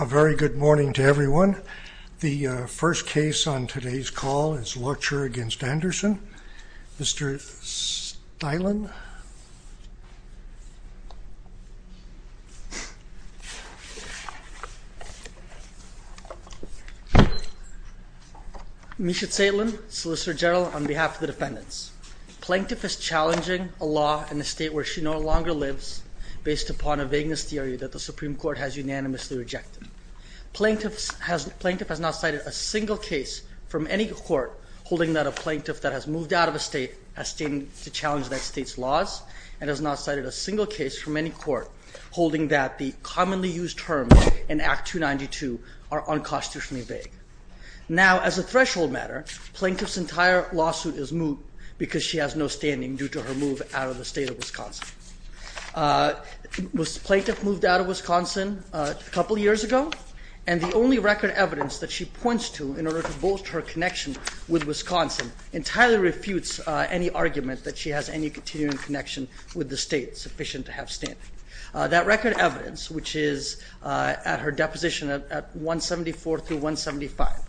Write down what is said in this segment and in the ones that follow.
A very good morning to everyone. The first case on today's call is Loertscher v. Anderson. Mr. Stilin. Misha Stilin, Solicitor General, on behalf of the defendants. Plaintiff is challenging a law in a state where she no longer lives based upon a vagueness theory that the Supreme Court has unanimously rejected. Plaintiff has not cited a single case from any court holding that a plaintiff that has moved out of a state has stated to challenge that state's laws and has not cited a single case from any court holding that the commonly used terms in Act 292 are unconstitutionally vague. Now, as a threshold matter, Plaintiff's entire move out of the state of Wisconsin. Plaintiff moved out of Wisconsin a couple years ago, and the only record evidence that she points to in order to bolster her connection with Wisconsin entirely refutes any argument that she has any continuing connection with the state sufficient to have standing. That record evidence, which is at her deposition at 174 through 175,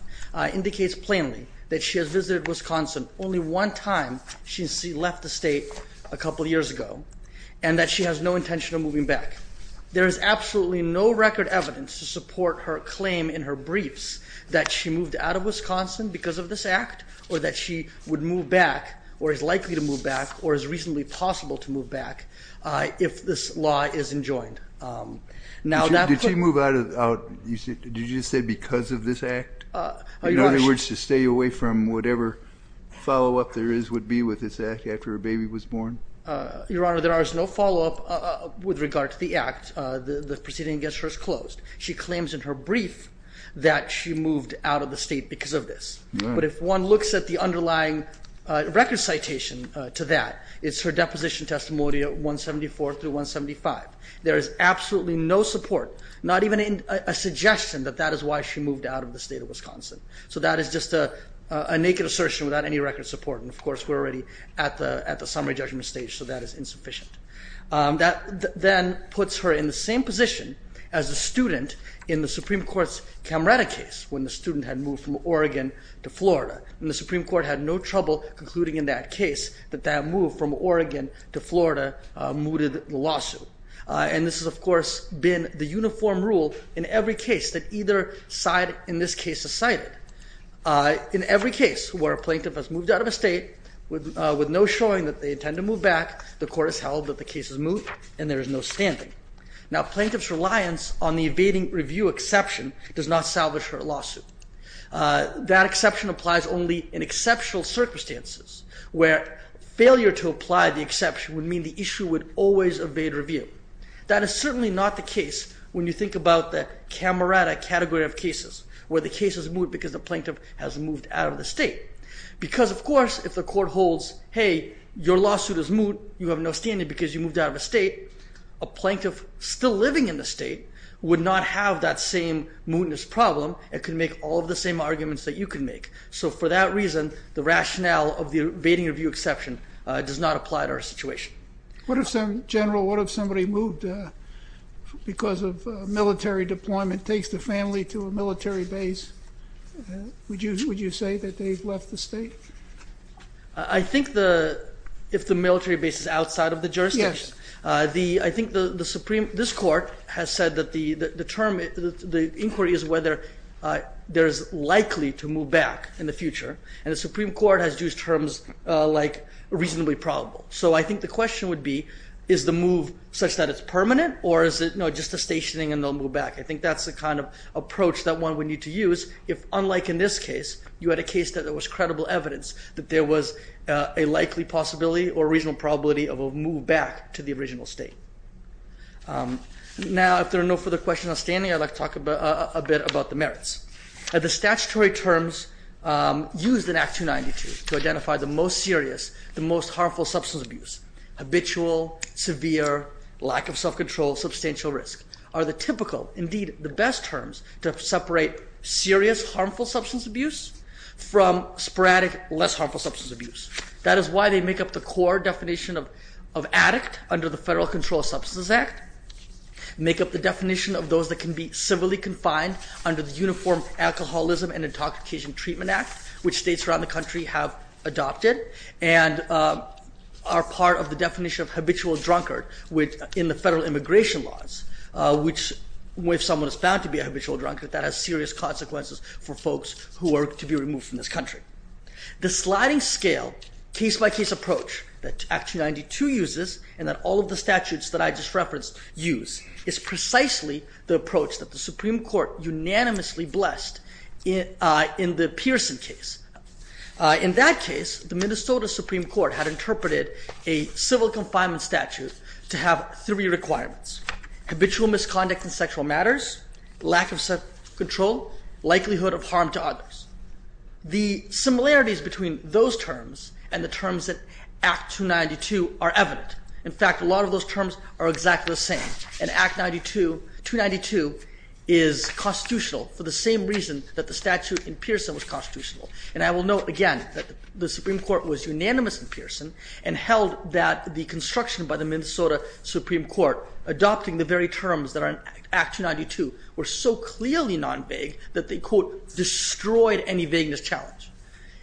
indicates plainly that she has visited Wisconsin only one time since she left the state a couple years ago and that she has no intention of moving back. There is absolutely no record evidence to support her claim in her briefs that she moved out of Wisconsin because of this Act or that she would move back or is likely to move back or is reasonably possible to move back if this law isn't joined. Did she move out, did you just say because of this Act? In other words, to stay away from whatever follow-up there is would be with this Act after a baby was born? Your Honor, there is no follow-up with regard to the Act. The proceeding against her is closed. She claims in her brief that she moved out of the state because of this. But if one looks at the underlying record citation to that, it's her deposition testimony at 174 through 175. There is absolutely no support, not even a suggestion that that is why she a naked assertion without any record support. And of course, we're already at the summary judgment stage, so that is insufficient. That then puts her in the same position as a student in the Supreme Court's Camerata case when the student had moved from Oregon to Florida. And the Supreme Court had no trouble concluding in that case that that move from Oregon to Florida mooted the lawsuit. And this has, of course, been the uniform rule in every case that either side in this case has cited. In every case where a plaintiff has moved out of a state with no showing that they intend to move back, the court has held that the case has moved and there is no standing. Now plaintiff's reliance on the evading review exception does not salvage her lawsuit. That exception applies only in exceptional circumstances where failure to apply the exception would mean the issue would always evade review. That is certainly not the case when you think about the Camerata category of cases where the case is moot because the plaintiff has moved out of the state. Because of course, if the court holds, hey, your lawsuit is moot, you have no standing because you moved out of the state, a plaintiff still living in the state would not have that same mootness problem and could make all of the same arguments that you could make. So for that reason, the rationale of the evading review exception does not apply to our situation. What if some general, what if somebody moved because of military deployment, takes the family to a military base, would you say that they've left the state? I think if the military base is outside of the jurisdiction. I think the Supreme, this court has said that the term, the inquiry is whether there's likely to move back in the future and the Supreme Court has used terms like reasonably probable. So I think the question would be, is the move such that it's permanent or is it just a stationing and they'll move back? I think that's the kind of approach that one would need to use if unlike in this case, you had a case that there was credible evidence that there was a likely possibility or reasonable probability of a move back to the original state. Now if there are no further questions outstanding, I'd like to talk a bit about the merits. The statutory terms used in Act 292 to identify the most serious, the most harmful substance abuse, habitual, severe, lack of self-control, substantial risk, are the typical, indeed the best terms to separate serious, harmful substance abuse from sporadic, less harmful substance abuse. That is why they make up the core definition of addict under the Federal Control of Substances Act, make up the definition of those that can be civilly confined under the Uniform Alcoholism and Intoxication Treatment Act, which states around the country have are part of the definition of habitual drunkard in the federal immigration laws, which if someone is found to be a habitual drunkard, that has serious consequences for folks who are to be removed from this country. The sliding scale, case-by-case approach that Act 292 uses and that all of the statutes that I just referenced use, is precisely the approach that the Supreme Court unanimously blessed in the Pearson case. In that case, the Minnesota Supreme Court had interpreted a civil confinement statute to have three requirements. Habitual misconduct in sexual matters, lack of self-control, likelihood of harm to others. The similarities between those terms and the terms that Act 292 are evident. In fact, a lot of those terms are exactly the same. And Act 292 is constitutional for the same reason that the statute in Pearson was constitutional. And I will note again that the Supreme Court was unanimous in Pearson and held that the construction by the Minnesota Supreme Court adopting the very terms that are in Act 292 were so clearly non-vague that they, quote, destroyed any vagueness challenge.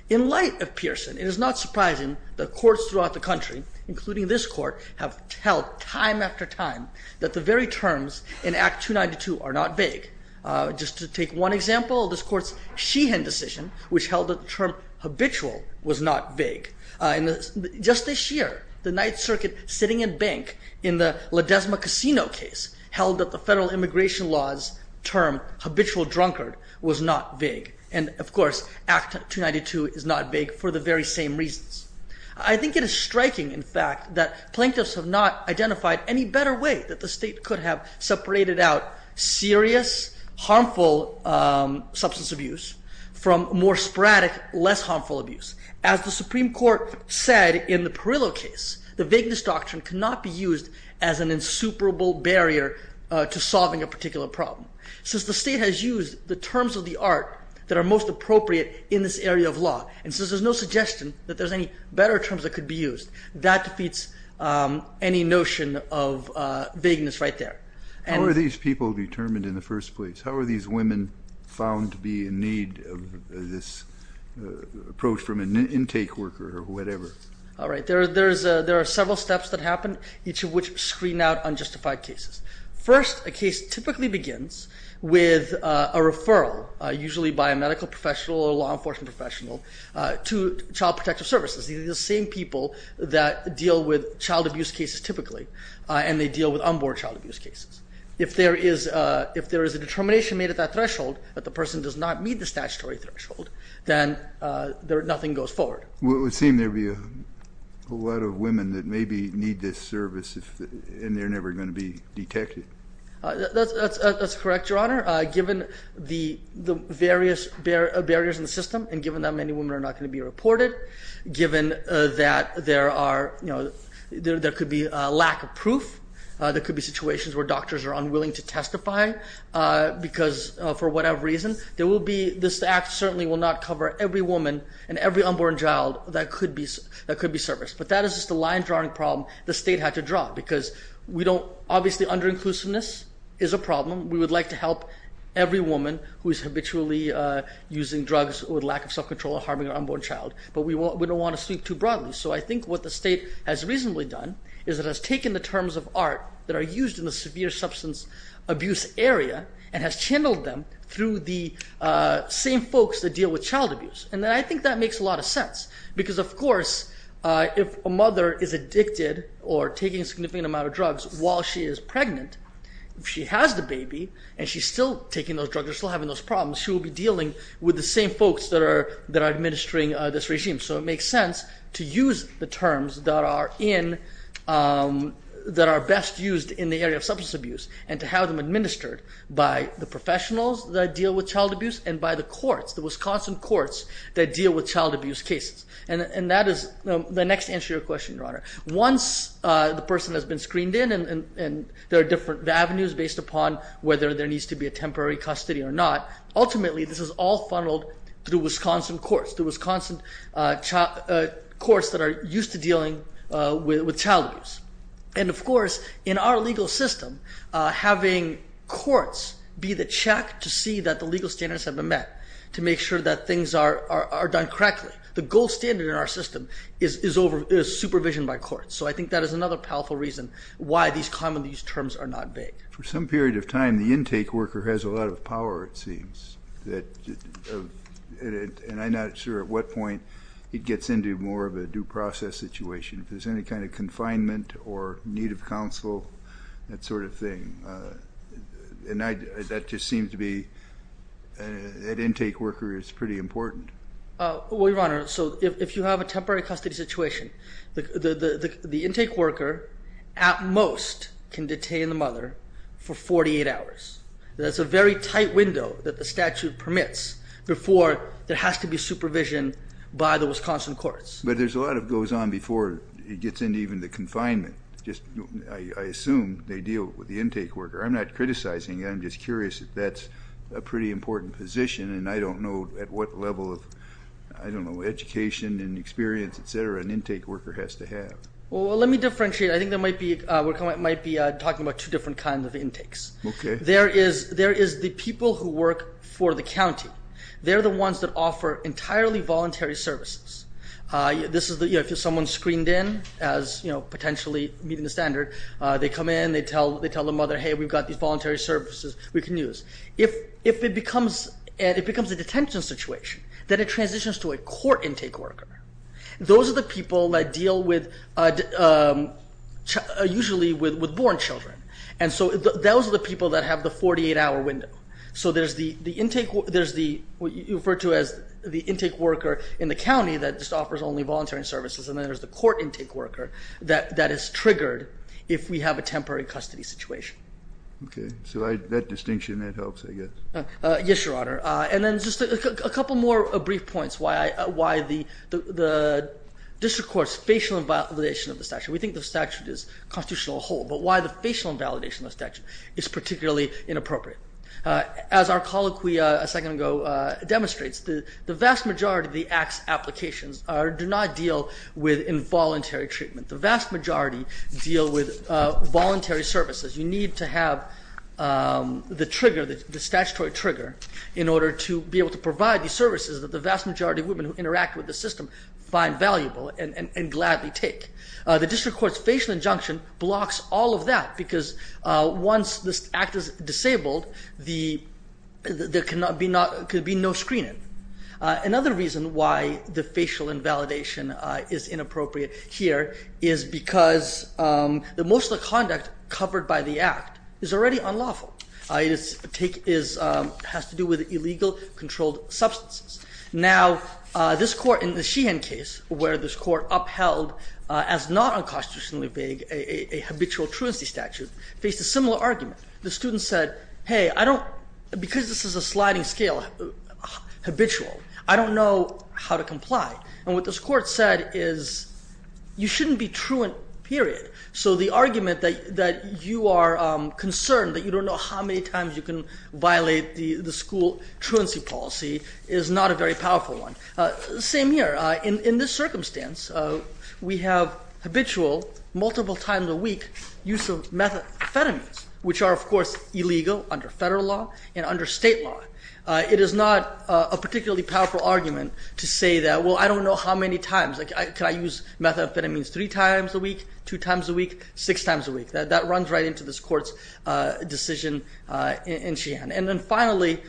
In light of Pearson, it is not surprising that courts throughout the country, including this court, have held time after time that the very terms in Act 292 are not vague. Just to take one example, this court's Sheehan decision, which held that the term habitual was not vague. Just this year, the Ninth Circuit sitting in bank in the Ledesma Casino case held that the federal immigration law's term, habitual drunkard, was not vague. And of course, Act 292 is not vague for the very same reasons. I think it is striking, in fact, that plaintiffs have not identified any better way that the state could have separated out serious, harmful substance abuse from more sporadic, less harmful abuse. As the Supreme Court said in the Perillo case, the vagueness doctrine cannot be used as an insuperable barrier to solving a particular problem. Since the state has used the terms of the art that are most appropriate in this area of law, and since there is no suggestion that there is any better terms that could be used, that defeats any notion of vagueness right there. How are these people determined in the first place? How are these women found to be in need of this approach from an intake worker or whatever? All right. There are several steps that happen, each of which screen out unjustified cases. First, a case typically begins with a referral, usually by a medical professional or law enforcement professional, to Child Protective Services. These are the same people that deal with child abuse cases. If there is a determination made at that threshold, that the person does not meet the statutory threshold, then nothing goes forward. It would seem there would be a lot of women that maybe need this service and they're never going to be detected. That's correct, Your Honor. Given the various barriers in the system, and given that many women are not going to be reported, given that there could be a lack of proof, there could be situations where doctors are unwilling to testify for whatever reason, this act certainly will not cover every woman and every unborn child that could be serviced. But that is just a line-drawing problem the state had to draw, because obviously under-inclusiveness is a problem. We would like to help every woman who is habitually using drugs with lack of self-control or harming an unborn child, but we don't want to sweep too broadly. So I think what the state has reasonably done is it has taken the terms of art that are used in the severe substance abuse area and has channeled them through the same folks that deal with child abuse. And I think that makes a lot of sense, because of course if a mother is addicted or taking a significant amount of drugs while she is pregnant, if she has the baby and she's still taking those drugs and still having those problems, she will be dealing with the same folks that are administering this regime. So it makes sense to use the terms that are best used in the area of substance abuse and to have them administered by the professionals that deal with child abuse and by the courts, the Wisconsin courts that deal with child abuse cases. And that is the next answer to your question, Your Honor. Once the person has been screened in and there are different avenues based upon whether there needs to be a temporary custody or not, ultimately this is all funneled through Wisconsin courts, the Wisconsin courts that are used to dealing with child abuse. And of course in our legal system, having courts be the check to see that the legal standards have been met to make sure that things are done correctly. The gold standard in our system is supervision by courts. So I think that is another powerful reason why these commonly used terms are not vague. For some period of time, the intake worker has a lot of power it seems. And I'm not sure at what point it gets into more of a due process situation. If there's any kind of confinement or need of counsel, that sort of thing. And that just seems to be, that intake worker is pretty important. Well, Your Honor, so if you have a temporary custody situation, the intake worker at most can detain the mother for 48 hours. That's a very tight window that the statute permits before there has to be supervision by the Wisconsin courts. But there's a lot that goes on before it gets into even the confinement. I assume they deal with the intake worker. I'm not criticizing, I'm just curious if that's a pretty important position and I don't know at what level of, I don't know, education and experience, etc., an intake worker has to have. Well, let me differentiate. I think we're talking about two different kinds of intakes. There is the people who work for the county. They're the ones that offer entirely voluntary services. If someone's screened in as potentially meeting the standard, they come in, they tell the mother, hey, we've got these voluntary services we can use. If it becomes a detention situation, then it transitions to a court intake worker. Those are the people that deal with, usually with born children. And so those are the people that have the 48-hour window. So there's what you refer to as the intake worker in the county that just offers only voluntary services, and then there's the court intake worker that is triggered if we have a temporary custody situation. Okay. So that distinction, that helps, I guess. Yes, Your Honor. And then just a couple more brief points why the district court's facial invalidation of the statute. We think the statute is constitutional as a whole, but why the facial invalidation of the statute is particularly inappropriate. As our colloquy a second ago demonstrates, the vast majority of the Act's applications do not deal with involuntary treatment. The vast majority deal with voluntary services. You need to have the trigger, the statutory trigger, in order to be able to provide the services that the vast majority of women who interact with the system find valuable and gladly take. The district court's facial injunction blocks all of that because once this Act is disabled, there could be no screening. Another reason why the facial invalidation is inappropriate here is because the motion of conduct covered by the Act is already unlawful. It has to do with illegal controlled substances. Now, this court in the Sheehan case, where this court upheld as not unconstitutionally vague a habitual truancy statute, faced a similar argument. The student said, hey, because this is a sliding scale, habitual, I don't know how to comply. And what this court said is you shouldn't be truant, period. So the argument that you are concerned, that you don't know how many times you can violate the school truancy policy, is not a very powerful one. Same here. In this circumstance, we have habitual, multiple times a week, use of methamphetamines, which are, of course, illegal under federal law and under state law. It is not a particularly powerful argument to say that, well, I don't know how many times. Can I use methamphetamines three times a week, two times a week, six times a week? That runs right into this court's decision in Sheehan. And then finally,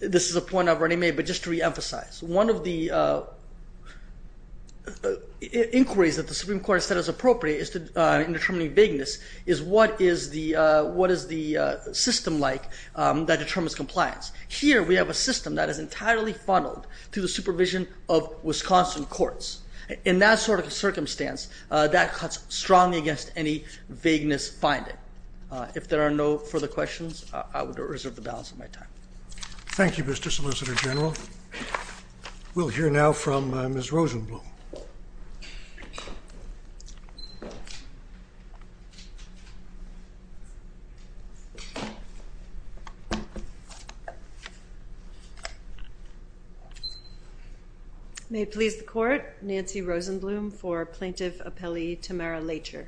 this is a point I've already made, but just to reemphasize, one of the inquiries that the Supreme Court has said is appropriate in determining vagueness is what is the system like that determines compliance. Here, we have a system that is entirely funneled to the supervision of Wisconsin courts. In that sort of circumstance, that cuts strongly against any vagueness finding. If there are no further questions, I would reserve the balance of my time. Thank you, Mr. Solicitor General. We'll hear now from Ms. Rosenblum. May it please the Court, Nancy Rosenblum for Plaintiff Appellee Tamara Leitcher.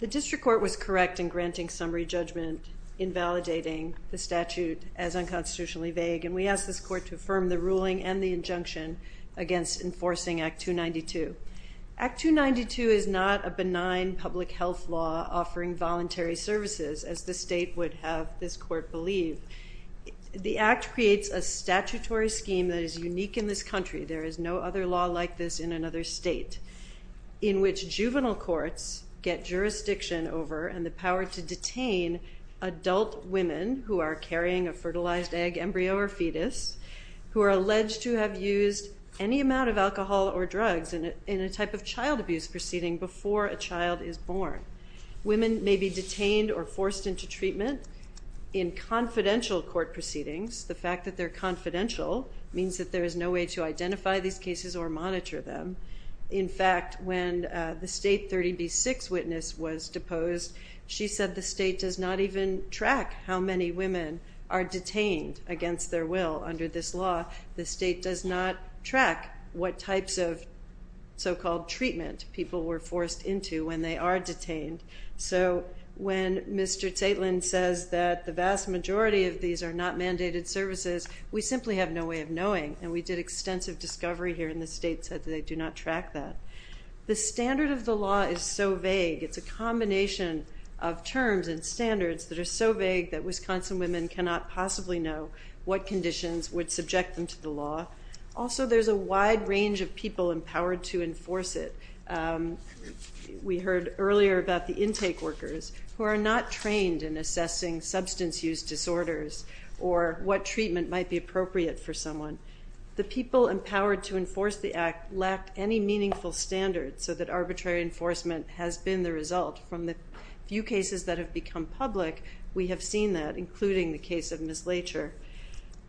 The District Court was correct in granting summary judgment invalidating the statute as unconstitutionally vague, and we ask this Court to affirm the ruling and the injunction against enforcing Act 292. Act 292 is not a benign public health law offering voluntary services as the state would have this Court believe. The Act creates a statutory scheme that is unique in this country. There is no other law like this in another state, in which juvenile courts get jurisdiction over and the power to detain adult women who are carrying a fertilized egg embryo or fetus, who are alleged to have used any amount of alcohol or drugs in a type of child abuse proceeding before a child is born. Women may be detained or forced into treatment in confidential court proceedings. The fact that they're confidential means that there is no way to identify these cases or monitor them. In fact, when the state 30B6 witness was deposed, she said the state does not even track how many women are detained against their will under this law. The state does not track what types of so-called treatment people were forced into when they are detained. So when Mr. Taitlin says that the vast majority of these are not mandated services, we simply have no way of knowing, and we did extensive discovery here in the state that they do not track that. The standard of the law is so vague. It's a combination of terms and standards that are so vague that Wisconsin women cannot possibly know what conditions would subject them to the law. Also, there's a wide range of people empowered to enforce it. We heard earlier about the intake workers who are not trained in assessing substance use disorders or what treatment might be appropriate for someone. The people empowered to enforce the act lack any meaningful standards so that arbitrary enforcement has been the result. From the few cases that have become public, we have seen that, including the case of Ms. Lacher.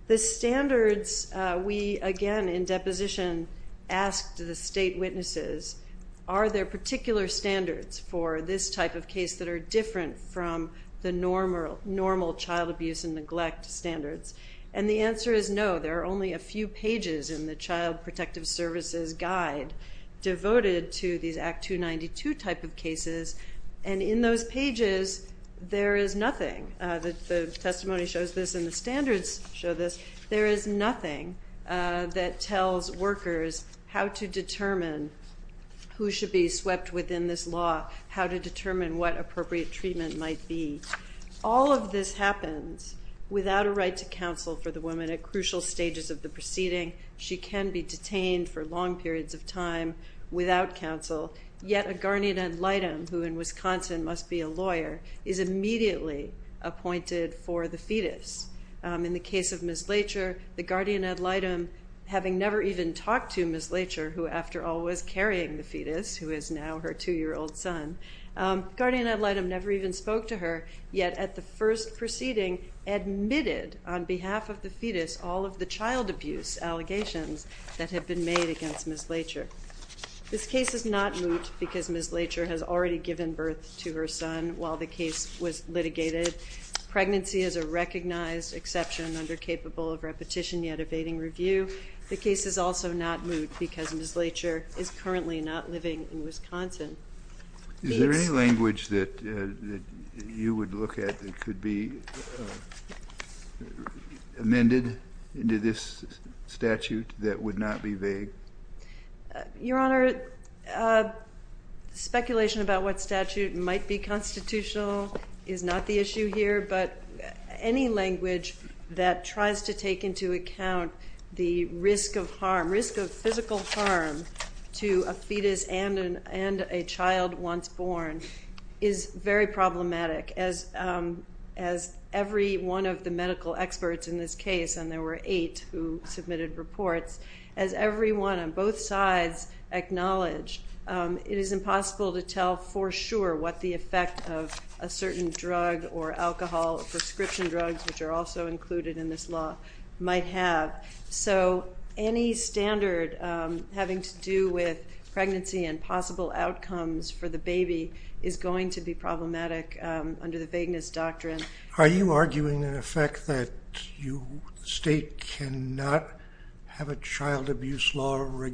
The standards we, again, in deposition asked the state witnesses, are there particular standards for this type of case that are different from the normal child abuse and neglect standards? And the answer is no. There are only a few pages in the Child Protective Services Guide devoted to these Act 292 type of cases, and in those pages, there is nothing. The testimony shows this and the standards show this. There is nothing that tells workers how to determine who should be swept within this law, how to determine what the treatment might be. All of this happens without a right to counsel for the woman at crucial stages of the proceeding. She can be detained for long periods of time without counsel, yet a guardian ad litem, who in Wisconsin must be a lawyer, is immediately appointed for the fetus. In the case of Ms. Lacher, the guardian ad litem, having never even talked to Ms. Lacher, who, after all, was carrying the fetus, who is now her two-year-old son, guardian ad litem never even spoke to her, yet at the first proceeding admitted on behalf of the fetus all of the child abuse allegations that had been made against Ms. Lacher. This case is not moot because Ms. Lacher has already given birth to her son while the case was litigated. Pregnancy is a recognized exception under capable of repetition yet evading review. The case is also not moot because Ms. Lacher is currently not living in Wisconsin. Is there any language that you would look at that could be amended into this statute that would not be vague? Your Honor, speculation about what statute might be constitutional is not the issue here, but any language that tries to take into account the risk of harm, risk of physical harm to a fetus and a child once born is very problematic. As every one of the medical experts in this case, and there were eight who submitted reports, as everyone on both sides acknowledged, it is impossible to tell for sure what the effect of a certain drug or alcohol, prescription drugs, which are also included in this law, so any standard having to do with pregnancy and possible outcomes for the baby is going to be problematic under the vagueness doctrine. Are you arguing in effect that the state cannot have a child abuse law that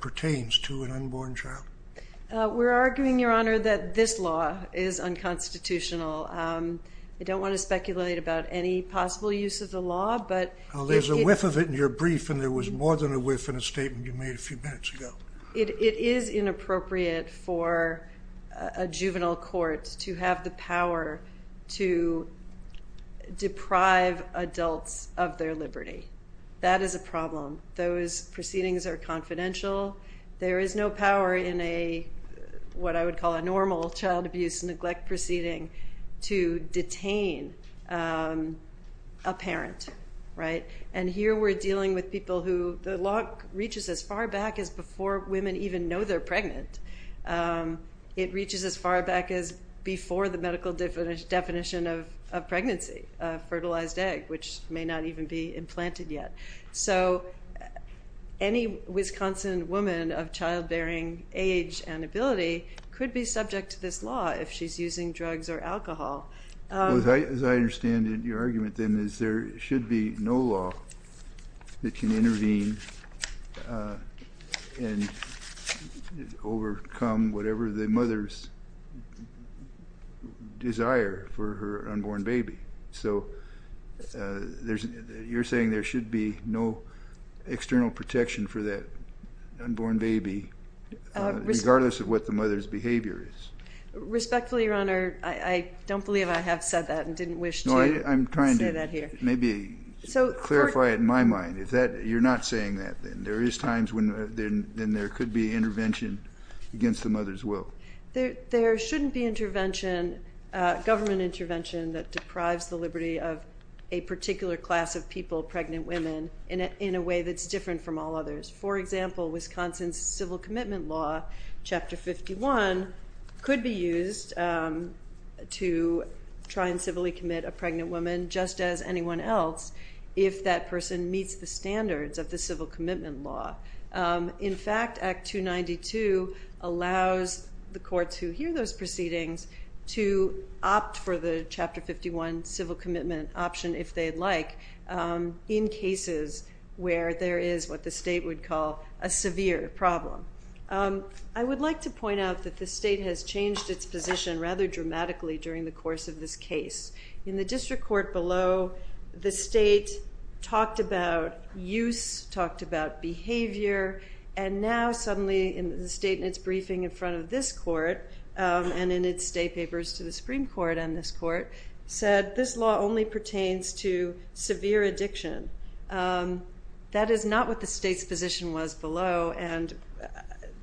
pertains to an unborn child? We're arguing, Your Honor, that this law is unconstitutional. I don't want to speculate about any possible use of the law, but... Well, there's a whiff of it in your brief and there was more than a whiff in a statement you made a few minutes ago. It is inappropriate for a juvenile court to have the power to deprive adults of their liberty. That is a problem. Those proceedings are confidential. There is no power in what I would call a normal child abuse neglect proceeding to detain a parent, and here we're dealing with people who... The law reaches as far back as before women even know they're pregnant. It reaches as far back as before the medical definition of pregnancy, a fertilized egg, which may not even be implanted yet. So any Wisconsin woman of childbearing age and ability could be subject to this law if she's using drugs or alcohol. As I understand it, your argument then is there should be no law that can intervene and overcome whatever the mother's desire for an unborn baby. So you're saying there should be no external protection for that unborn baby, regardless of what the mother's behavior is. Respectfully, Your Honor, I don't believe I have said that and didn't wish to say that here. I'm trying to maybe clarify it in my mind. If you're not saying that, then there is times when there could be intervention against the mother's will. There shouldn't be government intervention that deprives the liberty of a particular class of people, pregnant women, in a way that's different from all others. For example, Wisconsin's Civil Commitment Law, Chapter 51, could be used to try and civilly commit a pregnant woman, just as anyone else, if that person meets the standards of the Civil Commitment Law. In fact, Act 292 allows the courts who hear those proceedings to opt for the Chapter 51 civil commitment option, if they'd like, in cases where there is what the state would call a severe problem. I would like to point out that the state has changed its position rather dramatically during the course of this case. In the district court below, the state talked about use, talked about behavior, and now suddenly in the state in its briefing in front of this court, and in its state papers to the Supreme Court and this court, said this law only pertains to severe addiction. That is not what the state's position was below, and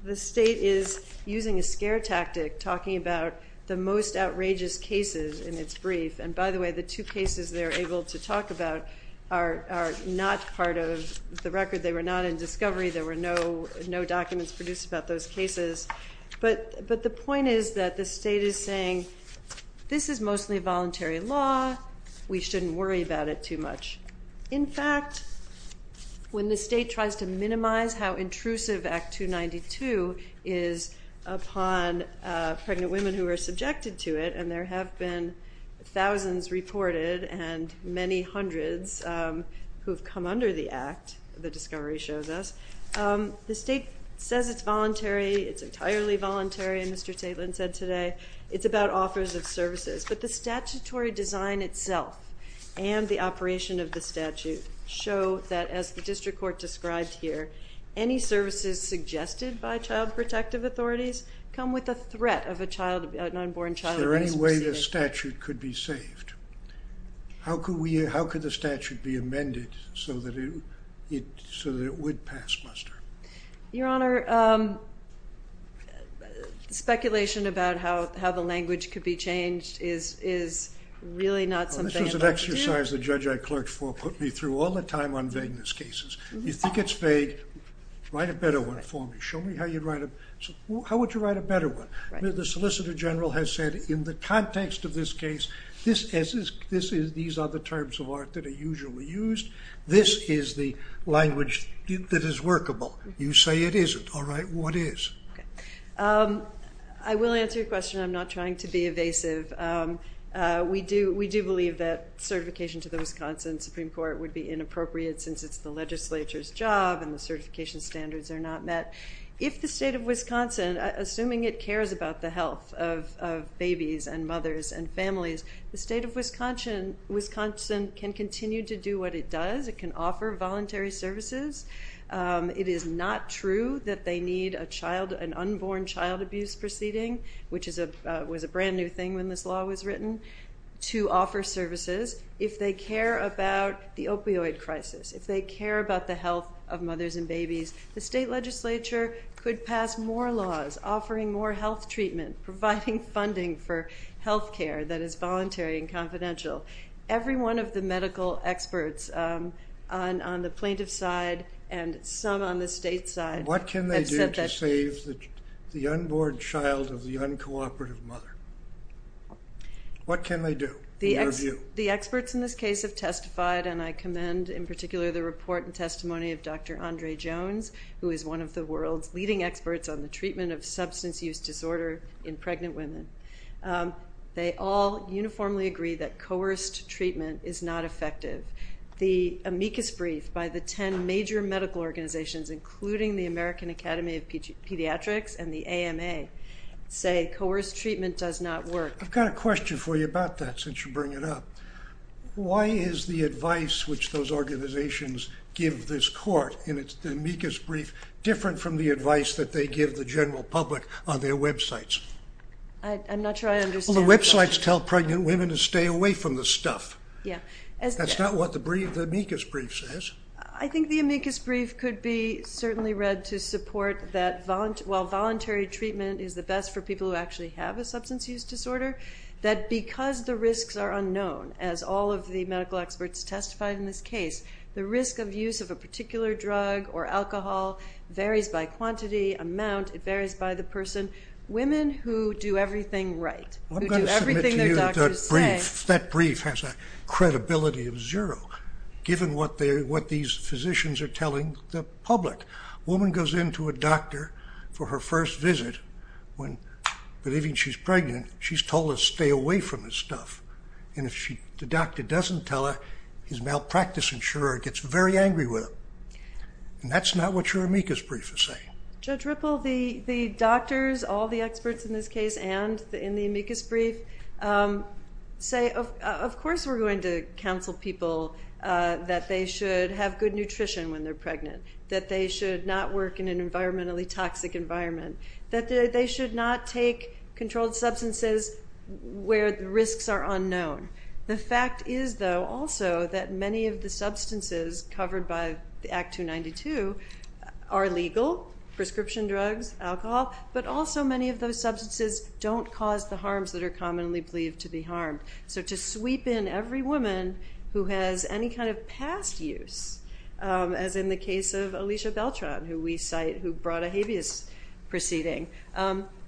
the state is using a scare tactic, talking about the most outrageous cases in its brief. And by the way, the two cases they're able to talk about are not part of the record. They were not in discovery. There were no documents produced about those cases. But the point is that the state is saying, this is mostly a voluntary law. We shouldn't worry about it too much. In fact, when the state tries to minimize how intrusive Act 292 is upon pregnant women who are subjected to it, and there have been thousands reported, and many hundreds who have come under the Act, the discovery shows us, the state says it's voluntary, it's entirely voluntary, and Mr. Tatelin said today, it's about offers of services. But the statutory design itself and the operation of the statute show that as the district court described here, any services suggested by child protective authorities come with a threat of a child, an unborn child. Is there any way the statute could be so that it would pass muster? Your Honor, speculation about how the language could be changed is really not something... This was an exercise the judge I clerked for put me through all the time on vagueness cases. You think it's vague, write a better one for me. Show me how you'd write a, how would you write a better one? The Solicitor General has said in the context of this case, this is, these are the terms of art that are usually used. This is the language that is workable. You say it isn't. All right, what is? I will answer your question. I'm not trying to be evasive. We do believe that certification to the Wisconsin Supreme Court would be inappropriate since it's the legislature's job and the certification standards are not met. If the state of Wisconsin, assuming it cares about the health of babies and children, Wisconsin can continue to do what it does. It can offer voluntary services. It is not true that they need a child, an unborn child abuse proceeding, which is a, was a brand new thing when this law was written, to offer services if they care about the opioid crisis. If they care about the health of mothers and babies, the state legislature could pass more laws offering more health treatment, providing funding for health care that is voluntary and confidential. Every one of the medical experts on the plaintiff's side and some on the state's side. What can they do to save the unborn child of the uncooperative mother? What can they do? The experts in this case have testified, and I commend in particular the report and testimony of Dr. Andre Jones, who is one of the world's leading experts on the impact of coerced treatment in pregnant women. They all uniformly agree that coerced treatment is not effective. The amicus brief by the ten major medical organizations, including the American Academy of Pediatrics and the AMA, say coerced treatment does not work. I've got a question for you about that since you bring it up. Why is the advice which those organizations give this court in its amicus brief different from the advice that they give the general public on their websites? I'm not sure I understand. The websites tell pregnant women to stay away from the stuff. That's not what the amicus brief says. I think the amicus brief could be certainly read to support that while voluntary treatment is the best for people who actually have a substance use disorder, that because the risks are unknown, as all of the medical experts testified in this case, the risk of use of a particular drug or alcohol varies by quantity, amount, it varies by the person. Women who do everything right, who do everything their doctors say. I'm going to submit to you that brief has a credibility of zero, given what these physicians are telling the public. A woman goes in to a doctor for her first visit, when believing she's pregnant, she's told to stay away from the stuff. And if the doctor doesn't tell her, his malpractice insurer gets very angry with her. And that's not what your amicus brief is saying. Judge Ripple, the doctors, all the experts in this case and in the amicus brief, say of course we're going to counsel people that they should have good nutrition when they're pregnant, that they should not work in an environmentally toxic environment, that they should not take controlled substances where the risks are unknown. The fact is though also that many of the substances covered by Act 292 are legal, prescription drugs, alcohol, but also many of those substances don't cause the harms that are commonly believed to be harmed. So to sweep in every woman who has any kind of past use, as in the case of Alicia Beltran, who we cite, who brought a habeas proceeding,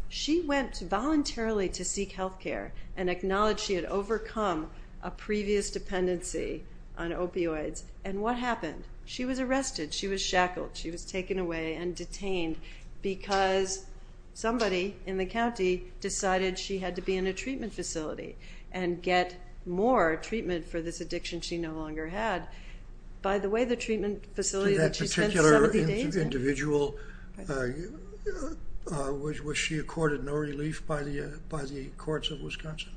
she went voluntarily to seek health care and acknowledged she had overcome a previous dependency on opioids. And what happened? She was arrested. She was shackled. She was taken away and detained because somebody in the county decided she had to be in a treatment facility and get more treatment for this addiction she no longer had. By the way, the treatment facility that she spent 70 days in... That particular individual, was she accorded no relief by the courts of Wisconsin?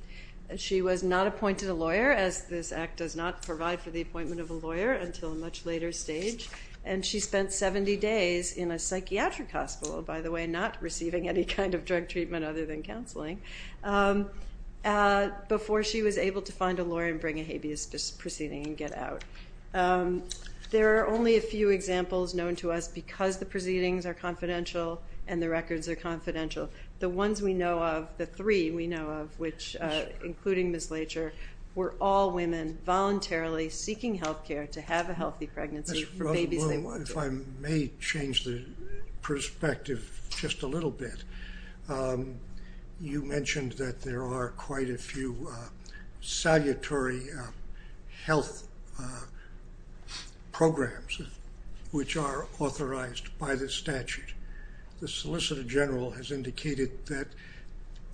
She was not appointed a lawyer, as this Act does not provide for the appointment of a lawyer until a much later stage, and she spent 70 days in a psychiatric hospital, by the way, not receiving any kind of drug treatment other than counseling, before she was able to find a lawyer and bring a habeas proceeding and get out. There are only a few examples known to us because the proceedings are confidential and the records are confidential. The ones we know of, the three we know of, which, including Ms. Leitcher, were all women voluntarily seeking health care to have a healthy pregnancy for babies they wanted. If I may change the perspective just a little bit, you mentioned that there are quite a few salutary health programs which are authorized by the statute. The Solicitor General has indicated that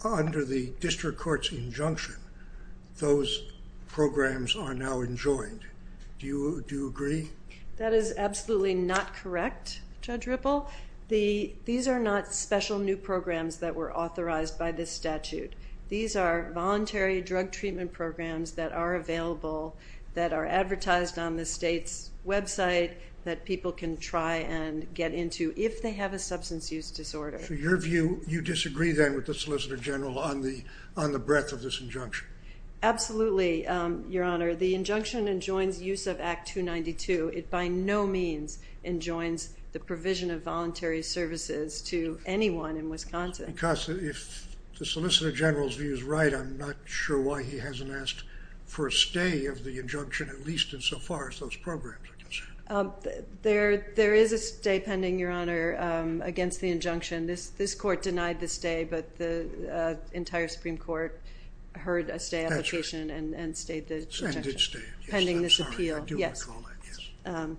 under the District Court's injunction, those programs are now enjoined. Do you agree? That is absolutely not correct, Judge Ripple. These are not special new programs that were authorized by this statute. These are voluntary drug treatment programs that are available, that are advertised on the state's website, that people can try and get into if they have a substance use disorder. So your view, you disagree then with the Solicitor General on the breadth of this injunction? Absolutely, Your Honor. The injunction enjoins use of Act 292. It by no means enjoins the provision of voluntary services to anyone in Wisconsin. Because if the Solicitor General's view is right, I'm not sure why he hasn't asked for a stay of the injunction, at least insofar as those programs are concerned. There is a stay pending, Your Honor, against the injunction. This Court denied the stay, but the entire Supreme Court heard a stay application and stayed the injunction. I did stay. Pending this appeal. I'm sorry. I do want to call that, yes.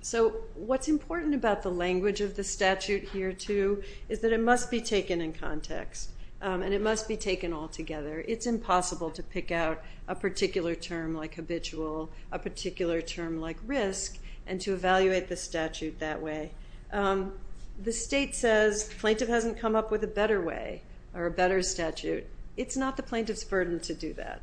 So what's important about the language of the statute here, too, is that it must be taken in context, and it must be taken all together. It's impossible to pick out a particular term like habitual, a particular term like risk, and to evaluate the statute that way. The state says the plaintiff hasn't come up with a better way, or a better statute. It's not the plaintiff's burden to do that.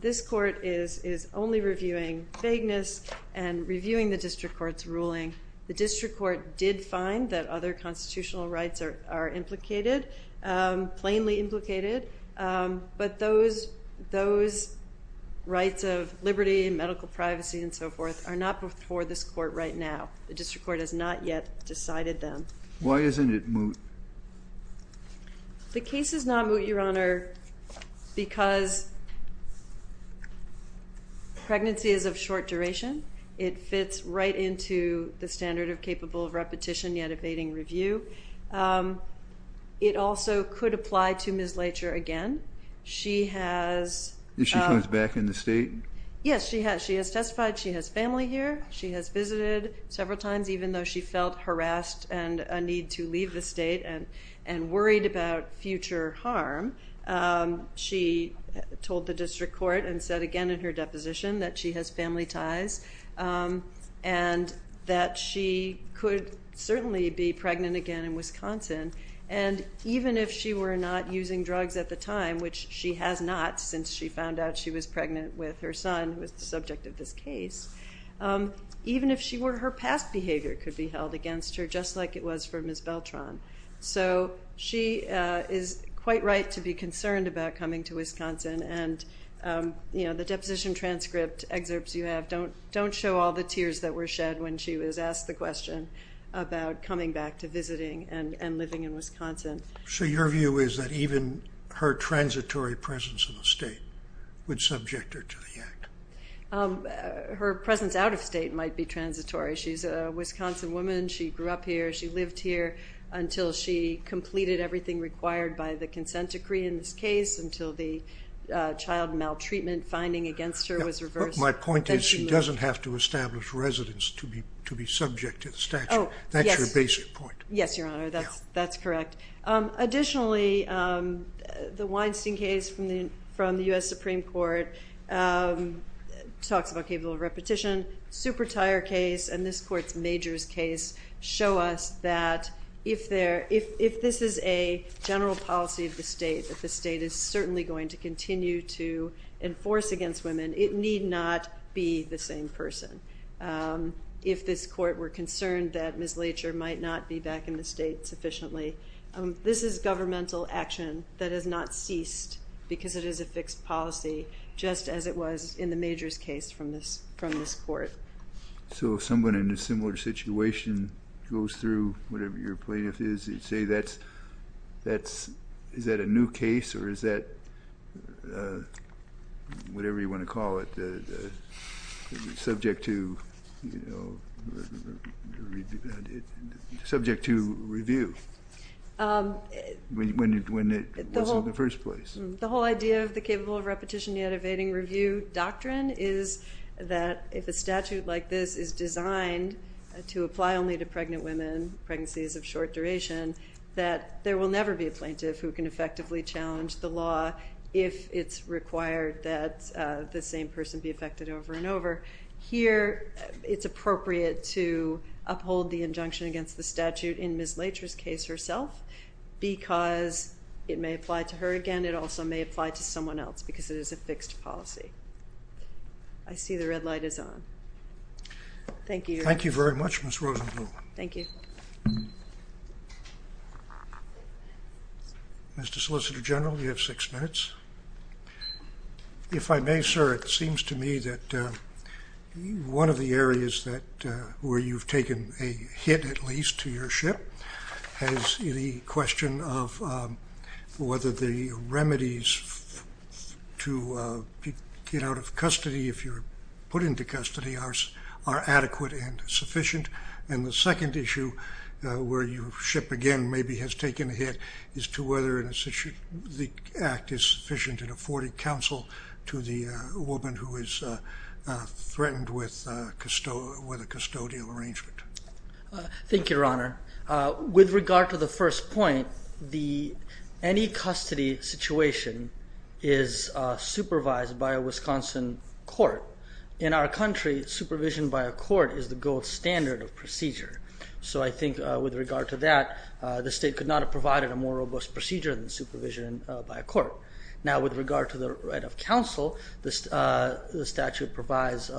This Court is only reviewing vagueness and reviewing the District Court's ruling. The District Court did find that other constitutional rights are implicated, plainly implicated. But those rights of liberty and medical privacy and so forth are not before this Court right now. The District Court has not yet decided them. Why isn't it moot? The case is not moot, Your Honor, because pregnancy is of short duration. It fits right into the standard of capable of repetition yet abating review. It also could apply to Ms. Leitcher again. She has... If she comes back in the state? Yes, she has. She has testified. She has family here. She has visited several times, even though she felt harassed and a need to leave the state and worried about future harm. She told the District Court and said again in her deposition that she has family ties and that she could certainly be pregnant again in Wisconsin. And even if she were not using drugs at the time, which she has not since she found out she was pregnant with her son, who is the subject of this case, even if she were, her past behavior could be held against her just like it was for Ms. Beltran. So she is quite right to be concerned about coming to Wisconsin. And, you know, the deposition transcript excerpts you have don't show all the tears that were shed when she was asked the question about coming back to visiting and living in Wisconsin. So your view is that even her transitory presence in the state would subject her to the act? Her presence out of state might be transitory. She is a Wisconsin woman. She grew up here. She lived here until she completed everything required by the consent decree in this case, until the child maltreatment finding against her was reversed. My point is she doesn't have to establish residence to be subject to the statute. That's your basic point. Yes, Your Honor. That's correct. Additionally, the Weinstein case from the U.S. Supreme Court talks about capable repetition. Super Tire case and this court's Majors case show us that if this is a general policy of the state, that the state is certainly going to continue to enforce against women. It need not be the same person. If this court were concerned that Ms. Leacher might not be back in the state sufficiently, this is governmental action that has not ceased because it is a fixed policy, just as it was in the Majors case from this court. So if someone in a similar situation goes through, whatever your plaintiff is, you'd say is that a new case or is that whatever you want to call it, subject to review when it wasn't in the first place? The whole idea of the capable repetition yet evading review doctrine is that if a statute like this is designed to apply only to pregnant women, pregnancies of short duration, that there will never be a plaintiff who can effectively challenge the law if it's required that the same person be affected over and over. Here it's appropriate to uphold the injunction against the statute in Ms. Leacher's case herself because it may apply to her again. It also may apply to someone else because it is a fixed policy. I see the red light is on. Thank you. Thank you very much, Ms. Rosenblum. Thank you. Mr. Solicitor General, you have six minutes. If I may, sir, it seems to me that one of the areas where you've taken a hit at least to your ship has the question of whether the remedies to get out of custody, if you're put into custody, are adequate and sufficient. And the second issue where your ship again maybe has taken a hit is to whether the act is sufficient and afforded counsel to the woman who is threatened with a custodial arrangement. Thank you, Your Honor. With regard to the first point, any custody situation is supervised by a Wisconsin court. In our country, supervision by a court is the gold standard of procedure. So I think with regard to that, the state could not have provided a more robust procedure than supervision by a court. Now, with regard to the right of counsel, the statute provides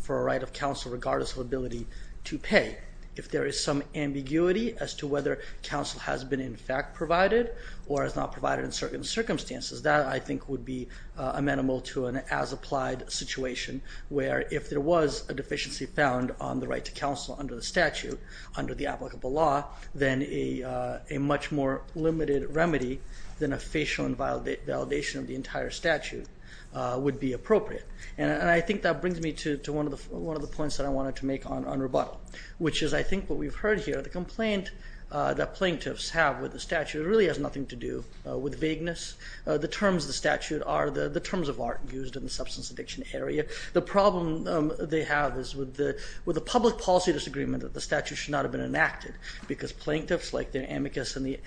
for a right of counsel regardless of ability to pay. If there is some ambiguity as to whether counsel has been in fact provided or is not provided in certain circumstances, that I think would be amenable to an as-applied situation where if there was a deficiency found on the right to counsel under the statute, under the applicable law, then a much more limited remedy than a facial invalidation of the entire statute would be appropriate. And I think that brings me to one of the points that I wanted to make on rebuttal, which is I think what we've heard here, the complaint that plaintiffs have with the statute really has nothing to do with vagueness. The terms of the statute are the terms of art used in the substance addiction area. The problem they have is with the public policy disagreement that the statute should not have been enacted because plaintiffs like the amicus and the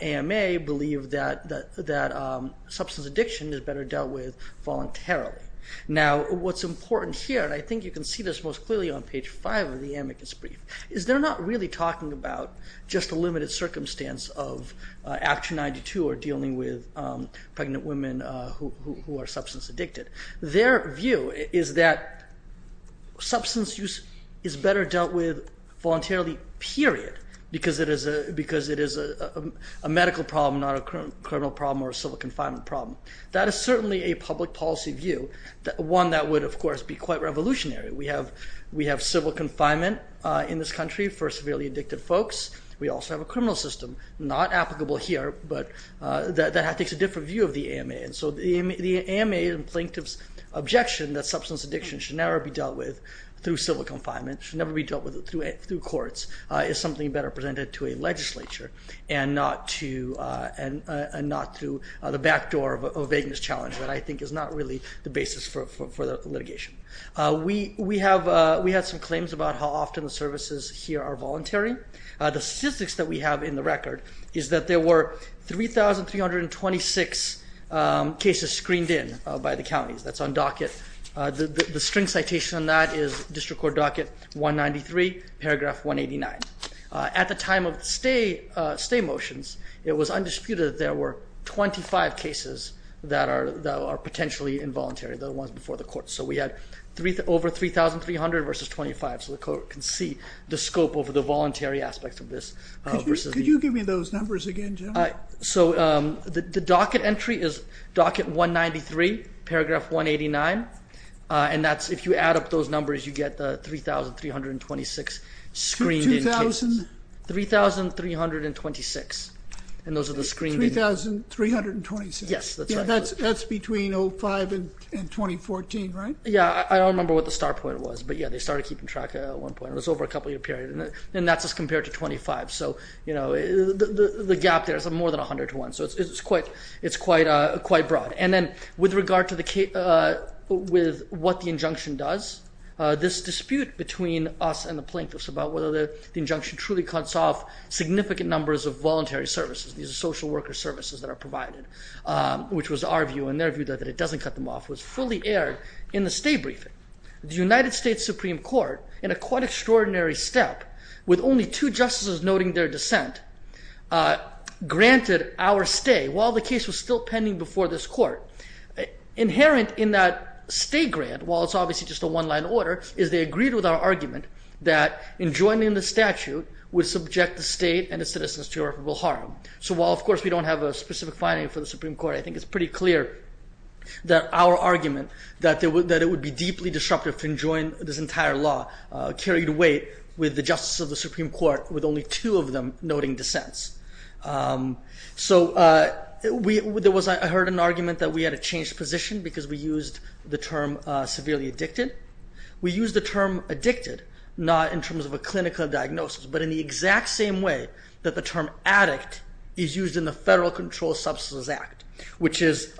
AMA believe that substance addiction is better dealt with voluntarily. Now, what's important here, and I think you can see this most clearly on page 5 of the amicus brief, is they're not really talking about just a limited circumstance of Act 292 or dealing with pregnant women who are substance addicted. Their view is that substance use is better dealt with voluntarily, period, because it is a medical problem, not a criminal problem or a civil confinement problem. That is certainly a public policy view, one that would, of course, be quite revolutionary. We have civil confinement in this country for severely addicted folks. We also have a criminal system, not applicable here, but that takes a different view of the AMA. And so the AMA and plaintiffs' objection that substance addiction should never be dealt with through civil confinement, should never be dealt with through courts, is something better presented to a legislature and not through the backdoor of a vagueness challenge that I think is not really the basis for the litigation. We have some claims about how often the services here are voluntary. The statistics that we have in the record is that there were 3,326 cases screened in by the counties. That's on docket. The string citation on that is District Court Docket 193, paragraph 189. At the time of the stay motions, it was undisputed that there were 25 cases that are potentially involuntary, the ones before the courts. So we had over 3,300 versus 25, so the court can see the scope of the voluntary aspects of this. Could you give me those numbers again, Jim? So the docket entry is docket 193, paragraph 189, and that's if you add up those numbers, you get the 3,326 screened in cases. 2,000? 3,326, and those are the screened in cases. 3,326? Yes, that's right. That's between 2005 and 2014, right? Yeah, I don't remember what the start point was, but yeah, they started keeping track at one point. It was over a couple-year period, and that's just compared to 25. So the gap there is more than 100 to 1, so it's quite broad. And then with regard to what the injunction does, this dispute between us and the plaintiffs about whether the injunction truly cuts off significant numbers of voluntary services, these are social worker services that are provided, which was our view, and their view that it doesn't cut them off, was fully aired in the stay briefing. The United States Supreme Court, in a quite extraordinary step, with only two justices noting their dissent, granted our stay while the case was still pending before this court. Inherent in that stay grant, while it's obviously just a one-line order, is they agreed with our argument that in joining the statute would subject the state and its citizens to irreparable harm. So while, of course, we don't have a specific finding for the Supreme Court, I think it's pretty clear that our argument that it would be deeply disruptive to join this entire law carried weight with the justice of the Supreme Court, with only two of them noting dissents. So I heard an argument that we had to change position because we used the term severely addicted. We used the term addicted not in terms of a clinical diagnosis, but in the exact same way that the term addict is used in the Federal Controlled Substances Act, which is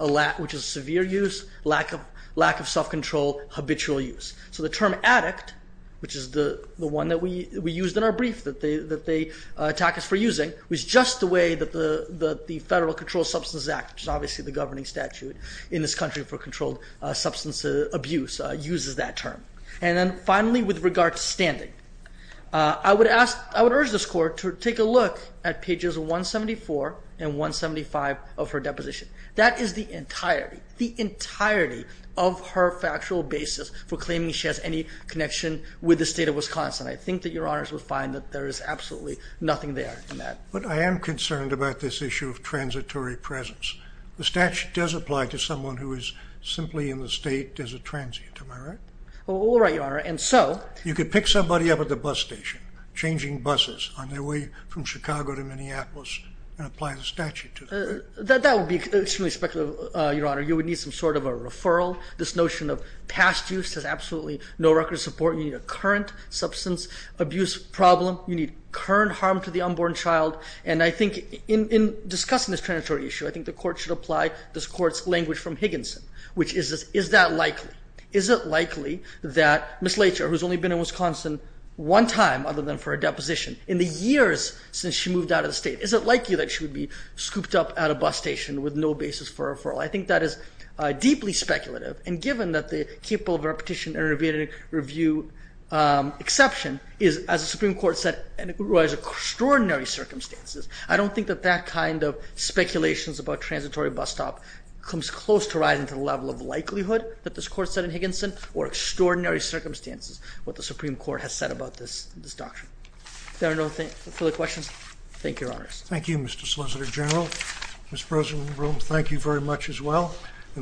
severe use, lack of self-control, habitual use. So the term addict, which is the one that we used in our brief that they attack us for using, was just the way that the Federal Controlled Substances Act, which is obviously the governing statute in this country for controlled substance abuse, uses that term. And then finally, with regard to standing, I would urge this Court to take a look at pages 174 and 175 of her deposition. That is the entirety, the entirety of her factual basis for claiming she has any connection with the state of Wisconsin. I think that Your Honors would find that there is absolutely nothing there in that. But I am concerned about this issue of transitory presence. The statute does apply to someone who is simply in the state as a transient, am I right? All right, Your Honor. And so... You could pick somebody up at the bus station, changing buses on their way from Chicago to Minneapolis, and apply the statute to them. That would be extremely speculative, Your Honor. You would need some sort of a referral. This notion of past use has absolutely no record of support. You need a current substance abuse problem. You need current harm to the unborn child. And I think in discussing this transitory issue, I think the Court should apply this Court's language from Higginson, which is, is that likely? Is it likely that Ms. Leitcher, who has only been in Wisconsin one time other than for a deposition, in the years since she moved out of the state, is it likely that she would be scooped up at a bus station with no basis for a referral? I think that is deeply speculative. And given that the capable of repetition and review exception is, as the Supreme Court said, in extraordinary circumstances, I don't think that that kind of speculations about transitory bus stop comes close to rising to the level of likelihood that this Court said in Higginson, or extraordinary circumstances, what the Supreme Court has said about this doctrine. If there are no further questions, thank you, Your Honors. Thank you, Mr. Solicitor General. Ms. Rosenblum, thank you very much as well.